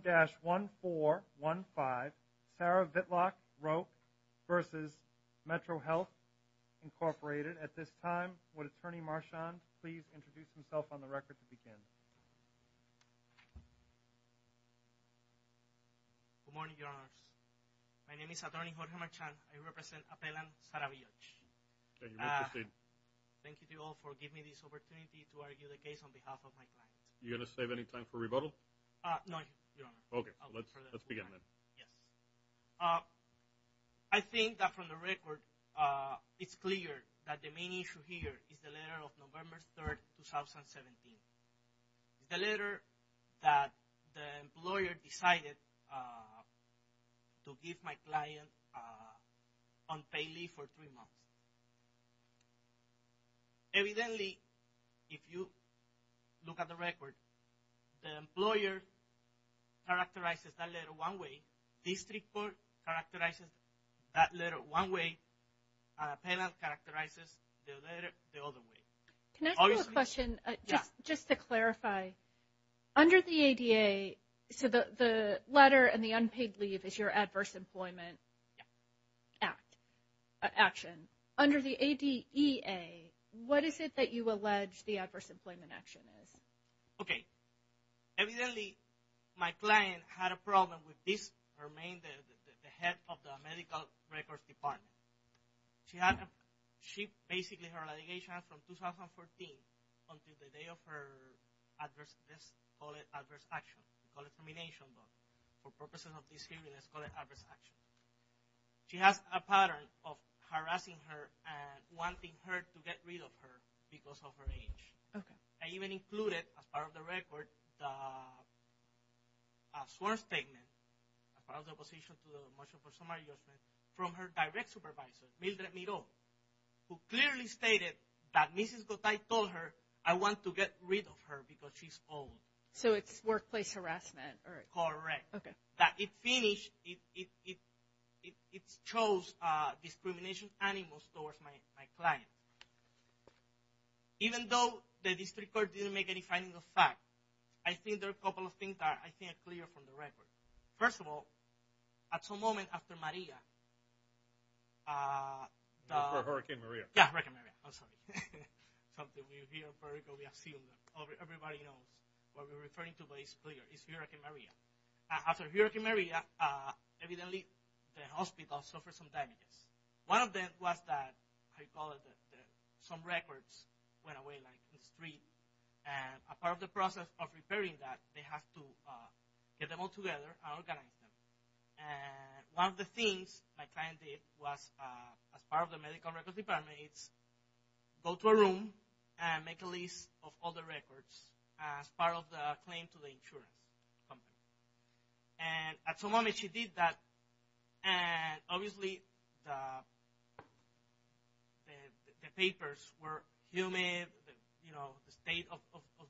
1-1415 Sarah Vitloch Roque v. Metrohealth, Inc. At this time, would Attorney Marchand please introduce himself on the record to begin? Good morning, Your Honors. My name is Attorney Jorge Marchand. I represent Appellant Sarah Villoch. Thank you. Please proceed. Thank you to you all for giving me this opportunity to argue the case on behalf of my client. Are you going to save any time for rebuttal? No, Your Honor. Okay. Let's begin then. Yes. I think that from the record, it's clear that the main issue here is the letter of November 3rd, 2017. The letter that the employer decided to give my client unpaid leave for three months. Evidently, if you look at the record, the employer characterizes that letter one way. District Court characterizes that letter one way. Appellant characterizes the letter the other way. Can I ask you a question just to clarify? Under the ADA, the letter and the unpaid leave is your adverse employment action. Under the ADEA, what is it that you allege the adverse employment action is? Okay. Evidently, my client had a problem with this. Her name is the head of the medical records department. Basically, her litigation from 2014 until the day of her adverse, let's call it adverse action. We call it termination, but for purposes of this hearing, let's call it adverse action. She has a pattern of harassing her and wanting her to get rid of her because of her age. I even included, as part of the record, a sworn statement, as part of the opposition to the motion for summary judgment, from her direct supervisor, Mildred Miro, who clearly stated that Mrs. Gotay told her, I want to get rid of her because she's old. So it's workplace harassment? Correct. Okay. That it finished, it shows discrimination animus towards my client. Even though the district court didn't make any findings of fact, I think there are a couple of things that I think are clear from the record. First of all, at some moment after Maria, Hurricane Maria. Yeah, Hurricane Maria. I'm sorry. Something we hear, we assume, everybody knows what we're referring to, but it's clear. It's Hurricane Maria. After Hurricane Maria, evidently the hospital suffered some damages. One of them was that, I call it, some records went away in the street. And a part of the process of repairing that, they have to get them all together and organize them. And one of the things my client did was, as part of the medical records department, go to a room and make a list of all the records as part of the claim to the insurance company. And at some moment she did that. And obviously the papers were humid. You know, the state of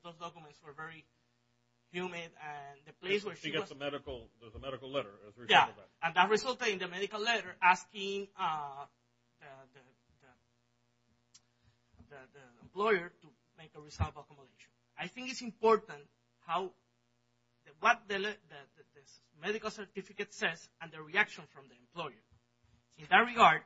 those documents were very humid. And the place where she was. She gets a medical letter. Yeah. And that resulted in the medical letter asking the employer to make a result of accumulation. I think it's important what the medical certificate says and the reaction from the employer. In that regard,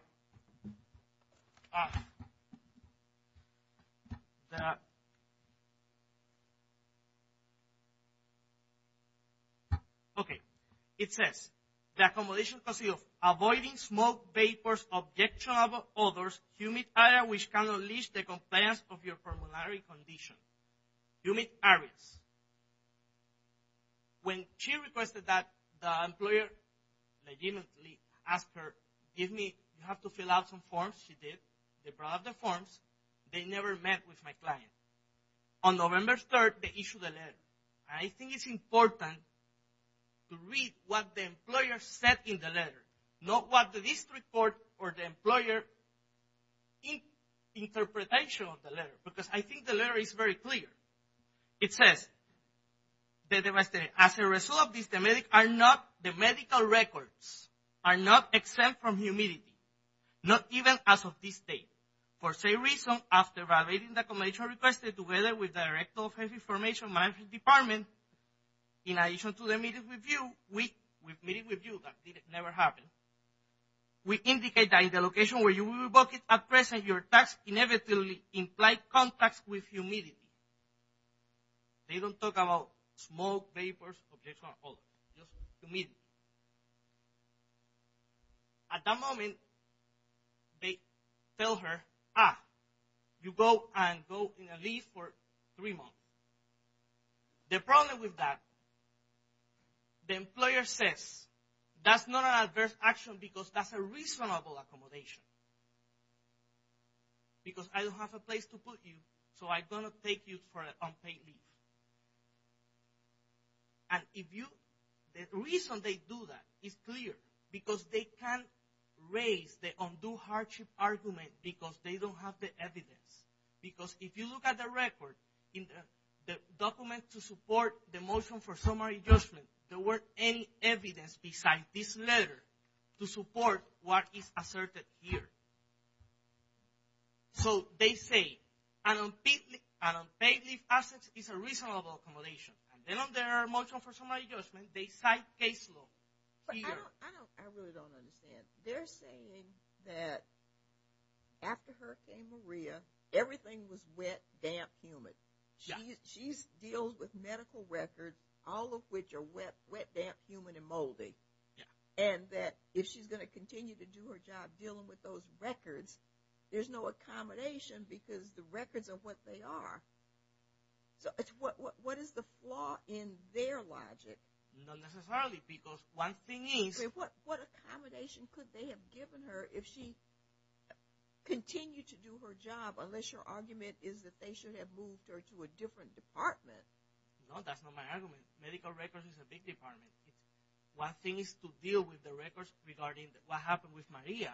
okay. It says, the accumulation consists of avoiding smoke, vapors, objectionable odors, humid areas which can unleash the compliance of your formulary condition. Humid areas. When she requested that, the employer legitimately asked her, give me, you have to fill out some forms. She did. They brought out the forms. They never met with my client. On November 3rd, they issued a letter. I think it's important to read what the employer said in the letter. Not what the district court or the employer interpretation of the letter. Because I think the letter is very clear. It says, as a result of this, the medical records are not exempt from humidity. Not even as of this date. For the same reason, after evaluating the accumulation requested together with the Director of Health Information Management Department, in addition to the meeting with you, we've met with you. That never happened. We indicate that in the location where you will book it at present, your tax inevitably implied contacts with humidity. They don't talk about smoke, vapors, objectionable odors. Just humidity. At that moment, they tell her, ah, you go and go in a lease for three months. The problem with that, the employer says, that's not an adverse action because that's a reasonable accommodation. Because I don't have a place to put you, so I'm going to take you for an unpaid leave. And if you, the reason they do that is clear. Because they can't raise the undue hardship argument because they don't have the evidence. Because if you look at the record, the document to support the motion for summary adjustment, there weren't any evidence besides this letter to support what is asserted here. So they say an unpaid leave asset is a reasonable accommodation. And then on their motion for summary adjustment, they cite case law. I really don't understand. They're saying that after Hurricane Maria, everything was wet, damp, humid. She deals with medical records, all of which are wet, damp, humid, and moldy. And that if she's going to continue to do her job dealing with those records, there's no accommodation because the records are what they are. So what is the flaw in their logic? Not necessarily, because one thing is— What accommodation could they have given her if she continued to do her job, unless your argument is that they should have moved her to a different department? No, that's not my argument. Medical records is a big department. One thing is to deal with the records regarding what happened with Maria.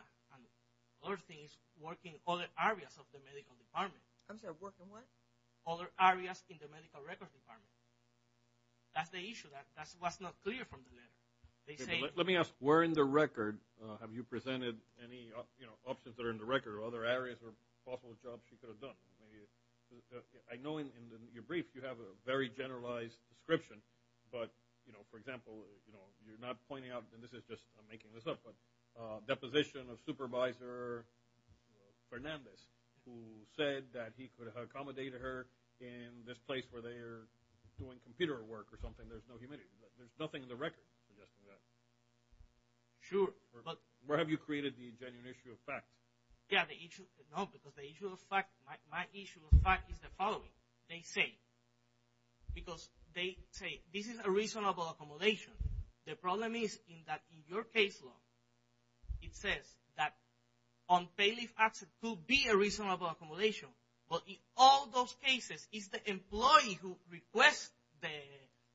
Another thing is working other areas of the medical department. I'm sorry, working what? Other areas in the medical records department. That's the issue. That's what's not clear from the letter. Let me ask, where in the record have you presented any options that are in the record or other areas or possible jobs she could have done? I know in your brief you have a very generalized description, but, for example, you're not pointing out—and this is just—I'm making this up, but deposition of Supervisor Fernandez, who said that he could have accommodated her in this place where they are doing computer work or something, there's no humidity. There's nothing in the record suggesting that. Sure, but— Where have you created the genuine issue of fact? Yeah, the issue—no, because the issue of fact—my issue of fact is the following. They say—because they say this is a reasonable accommodation. The problem is that in your case law, it says that unpaid leave absent could be a reasonable accommodation, but in all those cases, it's the employee who requests the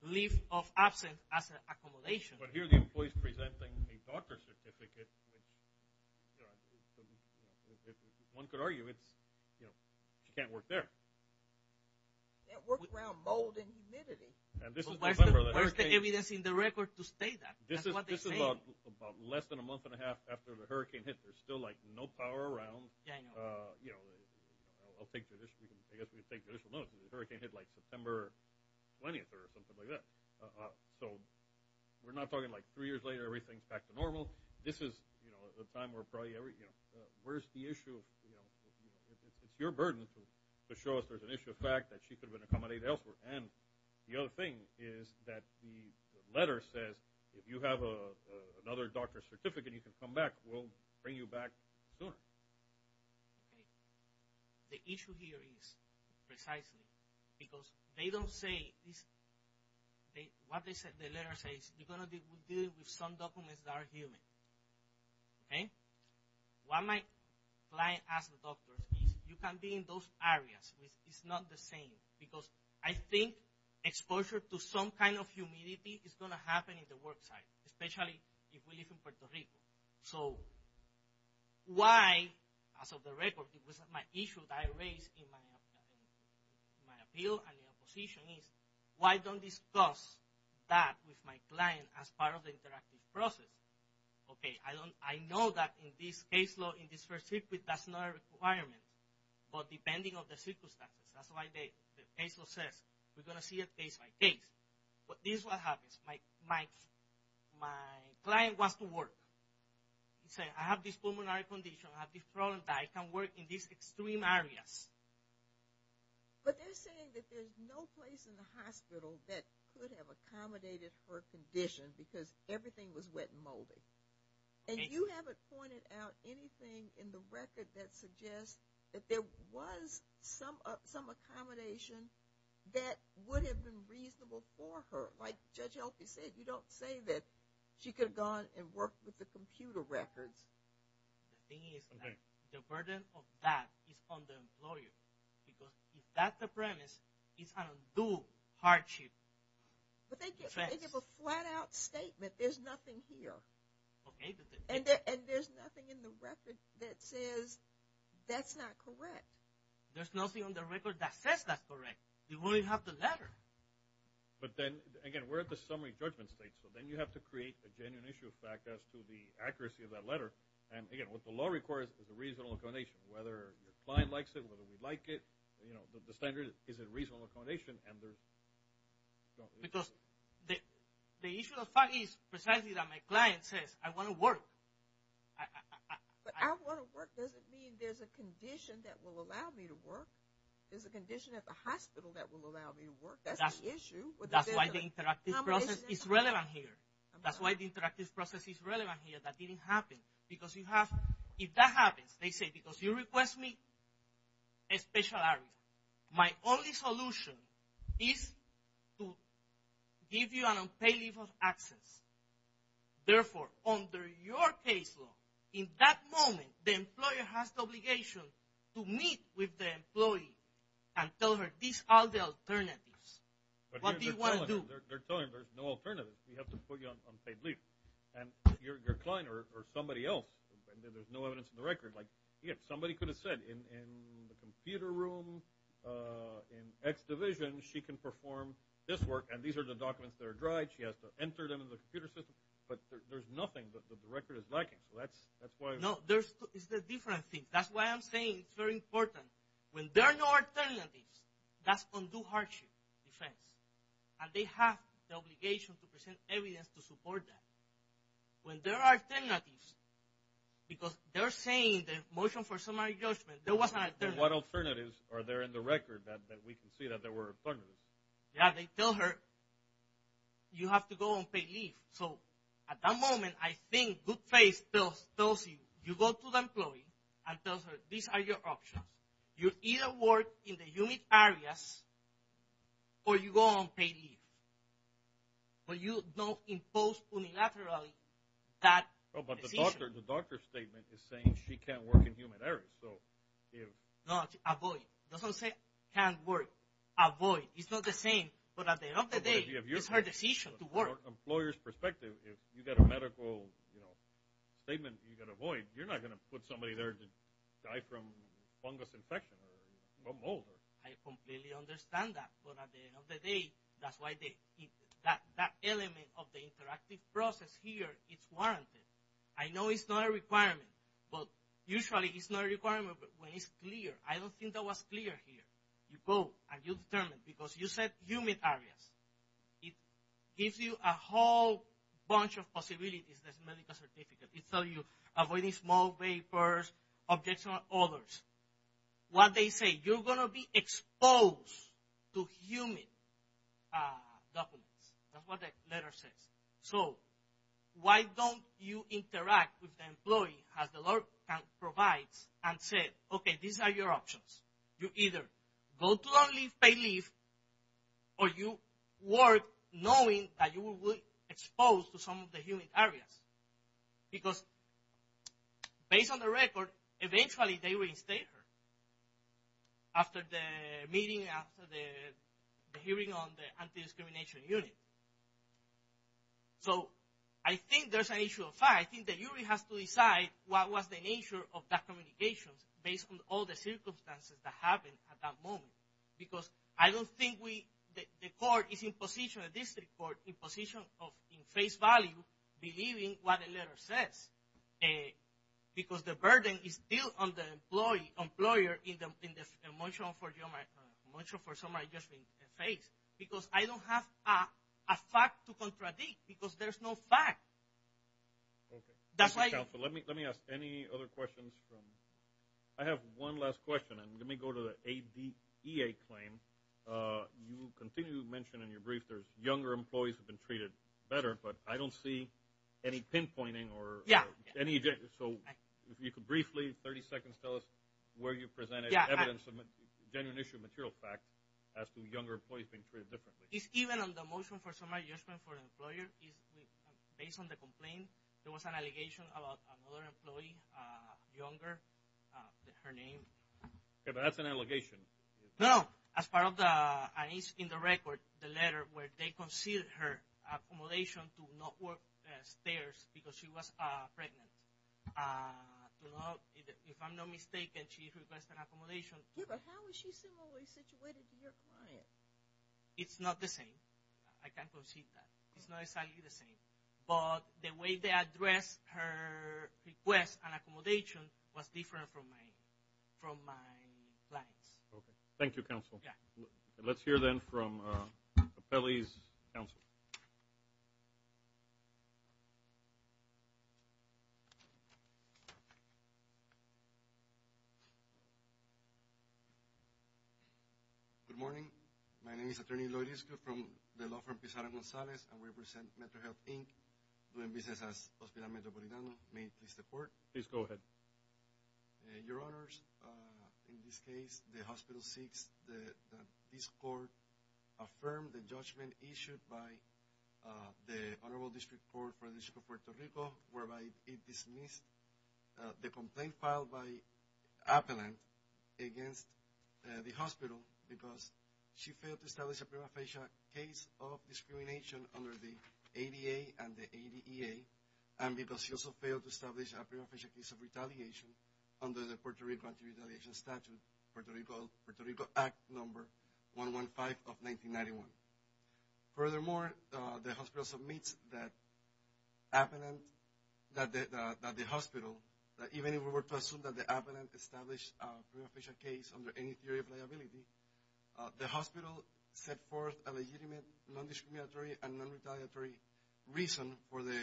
leave of absence as an accommodation. But here the employee is presenting a doctor's certificate, which, you know, one could argue it's—you know, she can't work there. Can't work around mold and humidity. Where's the evidence in the record to state that? That's what they say. This is about less than a month and a half after the hurricane hit. There's still, like, no power around. Yeah, I know. You know, I'll take judicial—I guess we can take judicial notice. The hurricane hit, like, September 20th or something like that. So we're not talking, like, three years later, everything's back to normal. This is, you know, the time where probably every—you know, where's the issue? It's your burden to show us there's an issue of fact that she could have been accommodated elsewhere. And the other thing is that the letter says if you have another doctor's certificate, you can come back. We'll bring you back sooner. Okay. The issue here is precisely because they don't say—what the letter says, you're going to deal with some documents that are human. Okay? What my client asked the doctor is you can be in those areas. It's not the same because I think exposure to some kind of humidity is going to happen in the work site, especially if we live in Puerto Rico. So why, as of the record, it was my issue that I raised in my appeal and in opposition is why don't discuss that with my client as part of the interactive process? Okay, I know that in this case law, in this first circuit, that's not a requirement. But depending on the circumstances, that's why the case law says we're going to see it case by case. But this is what happens. My client wants to work. He says, I have this pulmonary condition. I have this problem that I can work in these extreme areas. But they're saying that there's no place in the hospital that could have accommodated her condition because everything was wet and moldy. And you haven't pointed out anything in the record that suggests that there was some accommodation that would have been reasonable for her. Like Judge Helpe said, you don't say that she could have gone and worked with the computer records. The thing is, the burden of that is on the employer because if that's the premise, it's an undue hardship. But they give a flat-out statement. There's nothing here. And there's nothing in the record that says that's not correct. There's nothing on the record that says that's correct. You only have the letter. But then, again, we're at the summary judgment stage. So then you have to create a genuine issue of fact as to the accuracy of that letter. And, again, what the law requires is a reasonable accommodation. Whether your client likes it, whether we like it, you know, the standard is a reasonable accommodation. Because the issue of fact is precisely that my client says, I want to work. But I want to work doesn't mean there's a condition that will allow me to work. There's a condition at the hospital that will allow me to work. That's the issue. That's why the interactive process is relevant here. That's why the interactive process is relevant here. That didn't happen. Because if that happens, they say, because you request me a special area. My only solution is to give you an unpaid leave of access. Therefore, under your case law, in that moment, the employer has the obligation to meet with the employee and tell her these are the alternatives. What do you want to do? They're telling her there's no alternatives. We have to put you on unpaid leave. And your client or somebody else, there's no evidence in the record. Like somebody could have said in the computer room, in X division, she can perform this work. And these are the documents that are dried. She has to enter them in the computer system. But there's nothing that the record is lacking. So that's why. No, it's the different thing. That's why I'm saying it's very important. When there are no alternatives, that's undue hardship defense. And they have the obligation to present evidence to support that. When there are alternatives, because they're saying the motion for summary judgment, there was an alternative. What alternatives are there in the record that we can see that there were alternatives? Yeah, they tell her you have to go on paid leave. So at that moment, I think good faith tells you you go to the employee and tells her these are your options. You either work in the unit areas or you go on paid leave. But you don't impose unilaterally that decision. But the doctor's statement is saying she can't work in human areas. No, avoid. It doesn't say can't work. Avoid. It's not the same. But at the end of the day, it's her decision to work. From an employer's perspective, if you get a medical statement you can avoid, you're not going to put somebody there to die from fungus infection or mold. I completely understand that. But at the end of the day, that's why that element of the interactive process here is warranted. I know it's not a requirement, but usually it's not a requirement when it's clear. I don't think that was clear here. You go and you determine, because you said human areas. It gives you a whole bunch of possibilities, this medical certificate. It tells you avoid small vapors, objects, and others. What they say, you're going to be exposed to human documents. That's what the letter says. So why don't you interact with the employee as the law provides and say, okay, these are your options. You either go to a paid leave or you work knowing that you will be exposed to some of the human areas. Because based on the record, eventually they reinstate her after the meeting, after the hearing on the anti-discrimination unit. So I think there's an issue of fact. I think that you really have to decide what was the nature of that communication based on all the circumstances that happened at that moment. Because I don't think the court is in position, the district court, is in position of, in face value, believing what the letter says. Because the burden is still on the employer in the motion for someone just being faced. Because I don't have a fact to contradict, because there's no fact. Let me ask any other questions. I have one last question, and let me go to the ADA claim. You continue to mention in your brief there's younger employees who have been treated better, but I don't see any pinpointing or any – so if you could briefly, 30 seconds, tell us where you presented evidence of genuine issue of material fact as to younger employees being treated differently. It's even on the motion for somebody just going for an employer. Based on the complaint, there was an allegation about another employee, younger, her name. Okay, but that's an allegation. No, no. As part of the – and it's in the record, the letter, where they conceded her accommodation to not work stairs because she was pregnant. If I'm not mistaken, she requested an accommodation. Yeah, but how is she similarly situated to your client? It's not the same. I can't concede that. It's not exactly the same. But the way they addressed her request and accommodation was different from my client's. Okay. Thank you, Counsel. Yeah. Let's hear, then, from Capelli's counsel. Good morning. My name is Attorney Lourisco from the law firm Pizarra-Gonzalez, and we represent Mental Health, Inc., doing business as Hospital Metropolitano. May it please the Court? Please go ahead. Your Honors, in this case, the hospital seeks that this Court affirm the judgment issued by the Honorable District Court for the District of Puerto Rico, whereby it dismissed the complaint filed by Appellant against the hospital because she failed to establish a prima facie case of discrimination under the ADA and the ADEA and because she also failed to establish a prima facie case of retaliation under the Puerto Rico Anti-Retaliation Statute, Puerto Rico Act Number 115 of 1991. Furthermore, the hospital submits that Appellant, that the hospital, that even if we were to assume that the Appellant established a prima facie case under any theory of liability, the hospital set forth a legitimate non-discriminatory and non-retaliatory reason for the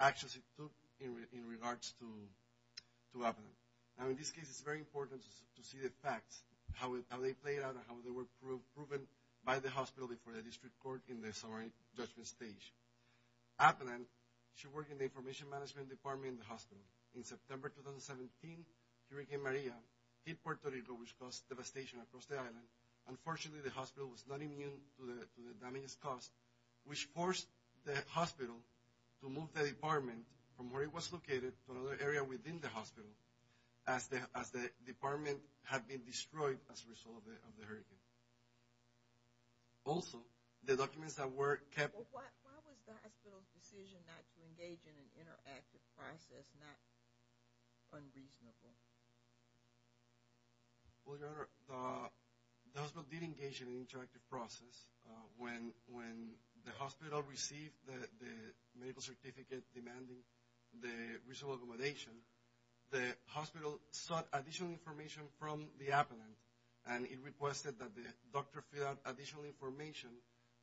actions it took in regards to Appellant. Now, in this case, it's very important to see the facts, how they played out and how they were proven by the hospital before the District Court in the summary judgment stage. Appellant, she worked in the Information Management Department in the hospital. In September 2017, Hurricane Maria hit Puerto Rico, which caused devastation across the island. Unfortunately, the hospital was not immune to the damage caused, which forced the hospital to move the department from where it was located to another area within the hospital as the department had been destroyed as a result of the hurricane. Also, the documents that were kept... Why was the hospital's decision not to engage in an interactive process not unreasonable? Well, Your Honor, the hospital did engage in an interactive process. When the hospital received the medical certificate demanding the reasonable accommodation, the hospital sought additional information from the Appellant, and it requested that the doctor fill out additional information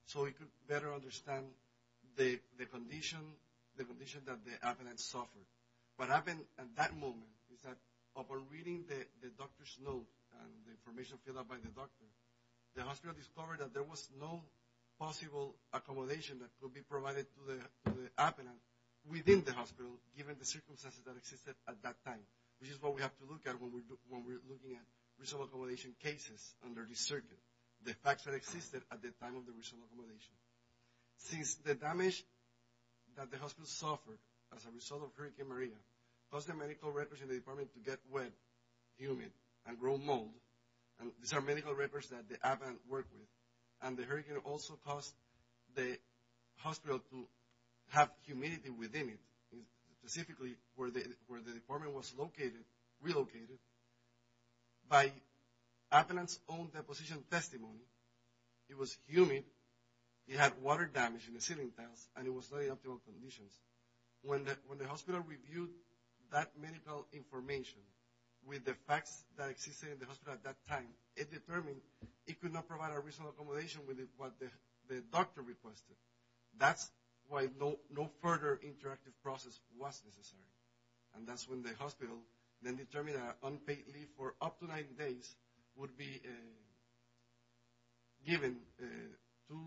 so it could better understand the condition that the Appellant suffered. What happened at that moment is that upon reading the doctor's note and the information filled out by the doctor, the hospital discovered that there was no possible accommodation that could be provided to the Appellant within the hospital given the circumstances that existed at that time, which is what we have to look at when we're looking at reasonable accommodation cases under this circuit, the facts that existed at the time of the reasonable accommodation. Since the damage that the hospital suffered as a result of Hurricane Maria caused the medical records in the department to get wet, humid, and grow mold, and these are medical records that the Appellant worked with, and the hurricane also caused the hospital to have humidity within it, specifically where the department was relocated. By Appellant's own deposition testimony, it was humid, it had water damage in the ceiling tiles, and it was not in optimal conditions. When the hospital reviewed that medical information with the facts that existed in the hospital at that time, it determined it could not provide a reasonable accommodation with what the doctor requested. That's why no further interactive process was necessary, and that's when the hospital then determined that an unpaid leave for up to 90 days would be given to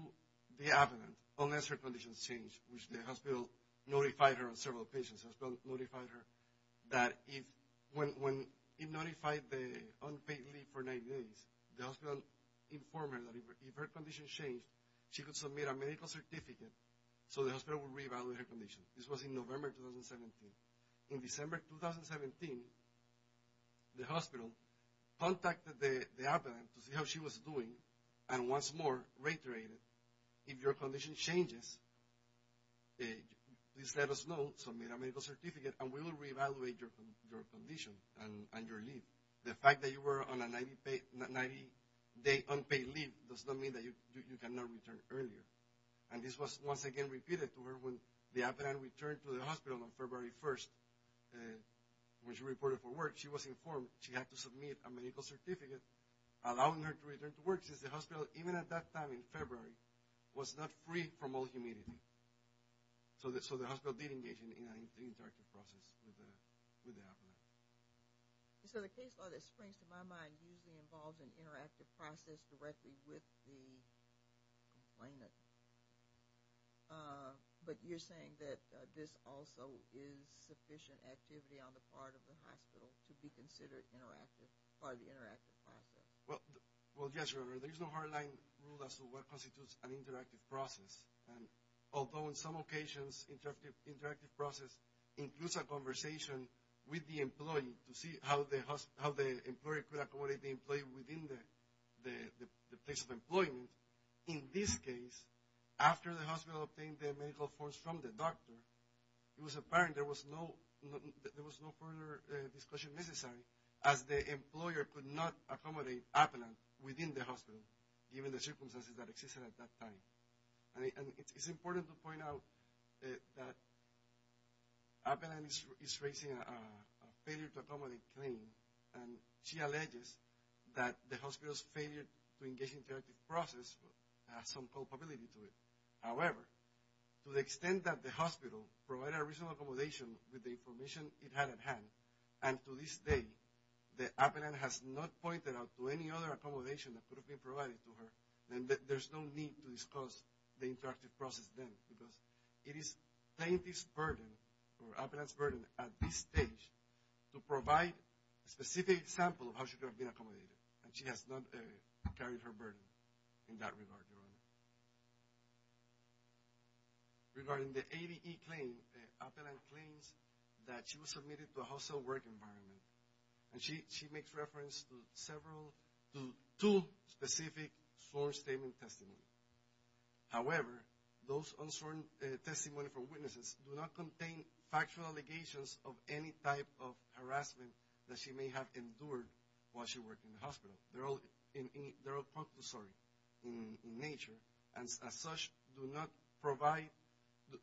the Appellant unless her conditions changed, which the hospital notified her and several patients, the hospital notified her that when it notified the unpaid leave for 90 days, the hospital informed her that if her condition changed, she could submit a medical certificate so the hospital would re-evaluate her condition. This was in November 2017. In December 2017, the hospital contacted the Appellant to see how she was doing, and once more reiterated, if your condition changes, please let us know, submit a medical certificate, and we will re-evaluate your condition and your leave. The fact that you were on a 90-day unpaid leave does not mean that you cannot return earlier, and this was once again repeated to her when the Appellant returned to the hospital on February 1st. When she reported for work, she was informed she had to submit a medical certificate allowing her to return to work since the hospital, even at that time in February, was not free from all humidity, so the hospital did engage in an interactive process with the Appellant. So the case law that springs to my mind usually involves an interactive process directly with the Complainant, but you're saying that this also is sufficient activity on the part of the hospital to be considered interactive, part of the interactive process. Well, yes, Your Honor. There is no hardline rule as to what constitutes an interactive process, although on some occasions interactive process includes a conversation with the employee to see how the employee could accommodate the employee within the place of employment. In this case, after the hospital obtained the medical forms from the doctor, it was apparent there was no further discussion necessary, as the employer could not accommodate Appellant within the hospital, given the circumstances that existed at that time. And it's important to point out that Appellant is raising a failure to accommodate claim, and she alleges that the hospital's failure to engage in interactive process has some culpability to it. However, to the extent that the hospital provided a reasonable accommodation with the information it had at hand, and to this day that Appellant has not pointed out to any other accommodation that could have been provided to her, then there's no need to discuss the interactive process then, because it is plaintiff's burden, or Appellant's burden at this stage, to provide a specific example of how she could have been accommodated, and she has not carried her burden in that regard, Your Honor. Regarding the ADE claim, Appellant claims that she was submitted to a hostile work environment, and she makes reference to two specific sworn statement testimonies. However, those sworn testimonies from witnesses do not contain factual allegations of any type of harassment that she may have endured while she worked in the hospital. They're all factual, sorry, in nature, and as such, do not provide,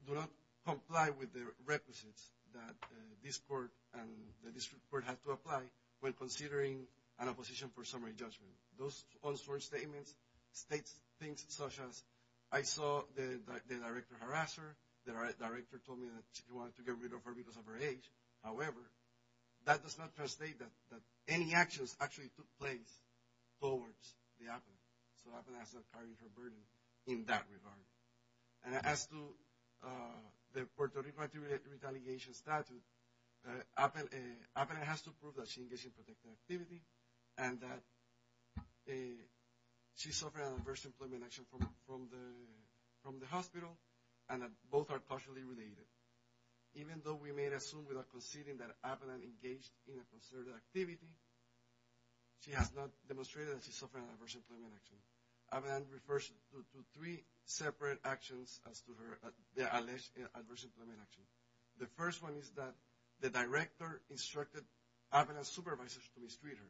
do not comply with the requisites that this court and the district court had to apply when considering an opposition for summary judgment. Those sworn statements state things such as, I saw the director harass her, the director told me that she wanted to get rid of her because of her age. However, that does not translate that any actions actually took place towards the Appellant, so Appellant has not carried her burden in that regard. And as to the Puerto Rico retaliation statute, Appellant has to prove that she engaged in protective activity, and that she suffered an adverse employment action from the hospital, and that both are culturally related. Even though we may assume without conceding that Appellant engaged in a conservative activity, she has not demonstrated that she suffered an adverse employment action. Appellant refers to three separate actions as to her adverse employment action. The first one is that the director instructed Appellant's supervisors to mistreat her.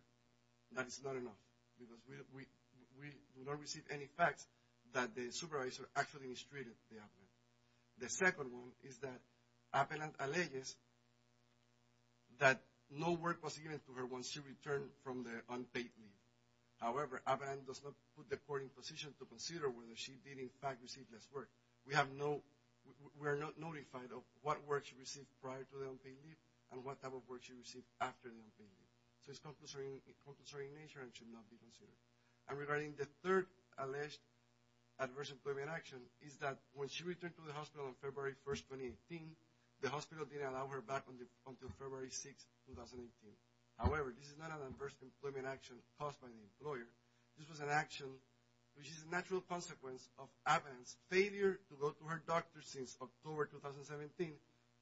That is not enough, because we do not receive any facts that the supervisor actually mistreated the Appellant. The second one is that Appellant alleges that no work was given to her once she returned from the unpaid leave. However, Appellant does not put the court in position to consider whether she did in fact receive this work. We are not notified of what work she received prior to the unpaid leave, and what type of work she received after the unpaid leave. So it is compulsory in nature and should not be considered. And regarding the third alleged adverse employment action is that when she returned to the hospital on February 1, 2018, the hospital did not allow her back until February 6, 2018. However, this is not an adverse employment action caused by the employer. This was an action which is a natural consequence of Appellant's failure to go to her doctor since October 2017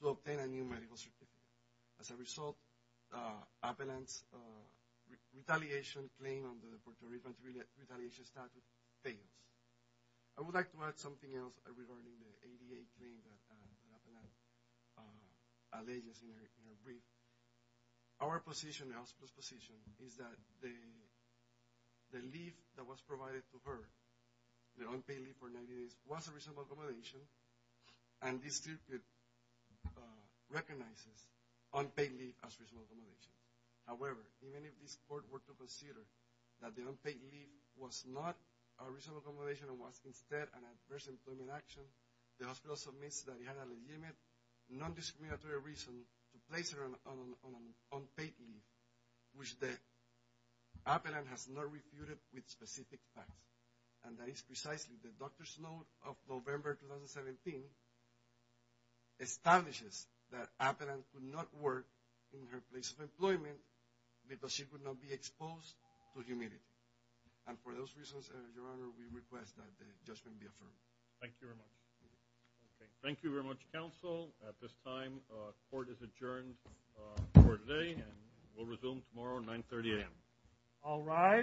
to obtain a new medical certificate. As a result, Appellant's retaliation claim under the Puerto Rican Retaliation Statute fails. I would like to add something else regarding the ADA claim that Appellant alleges in her brief. Our position, the hospital's position, is that the leave that was provided to her, the unpaid leave for 90 days, was a reasonable accommodation, and this circuit recognizes unpaid leave as reasonable accommodation. However, even if this court were to consider that the unpaid leave was not a reasonable accommodation and was instead an adverse employment action, the hospital submits that it had a legitimate, non-discriminatory reason to place her on unpaid leave, which Appellant has not refuted with specific facts. And that is precisely the doctor's note of November 2017 establishes that Appellant could not work in her place of employment because she could not be exposed to humidity. And for those reasons, Your Honor, we request that the judgment be affirmed. Thank you very much. Thank you very much, counsel. At this time, court is adjourned for today, and we'll resume tomorrow at 9.30 a.m. All rise.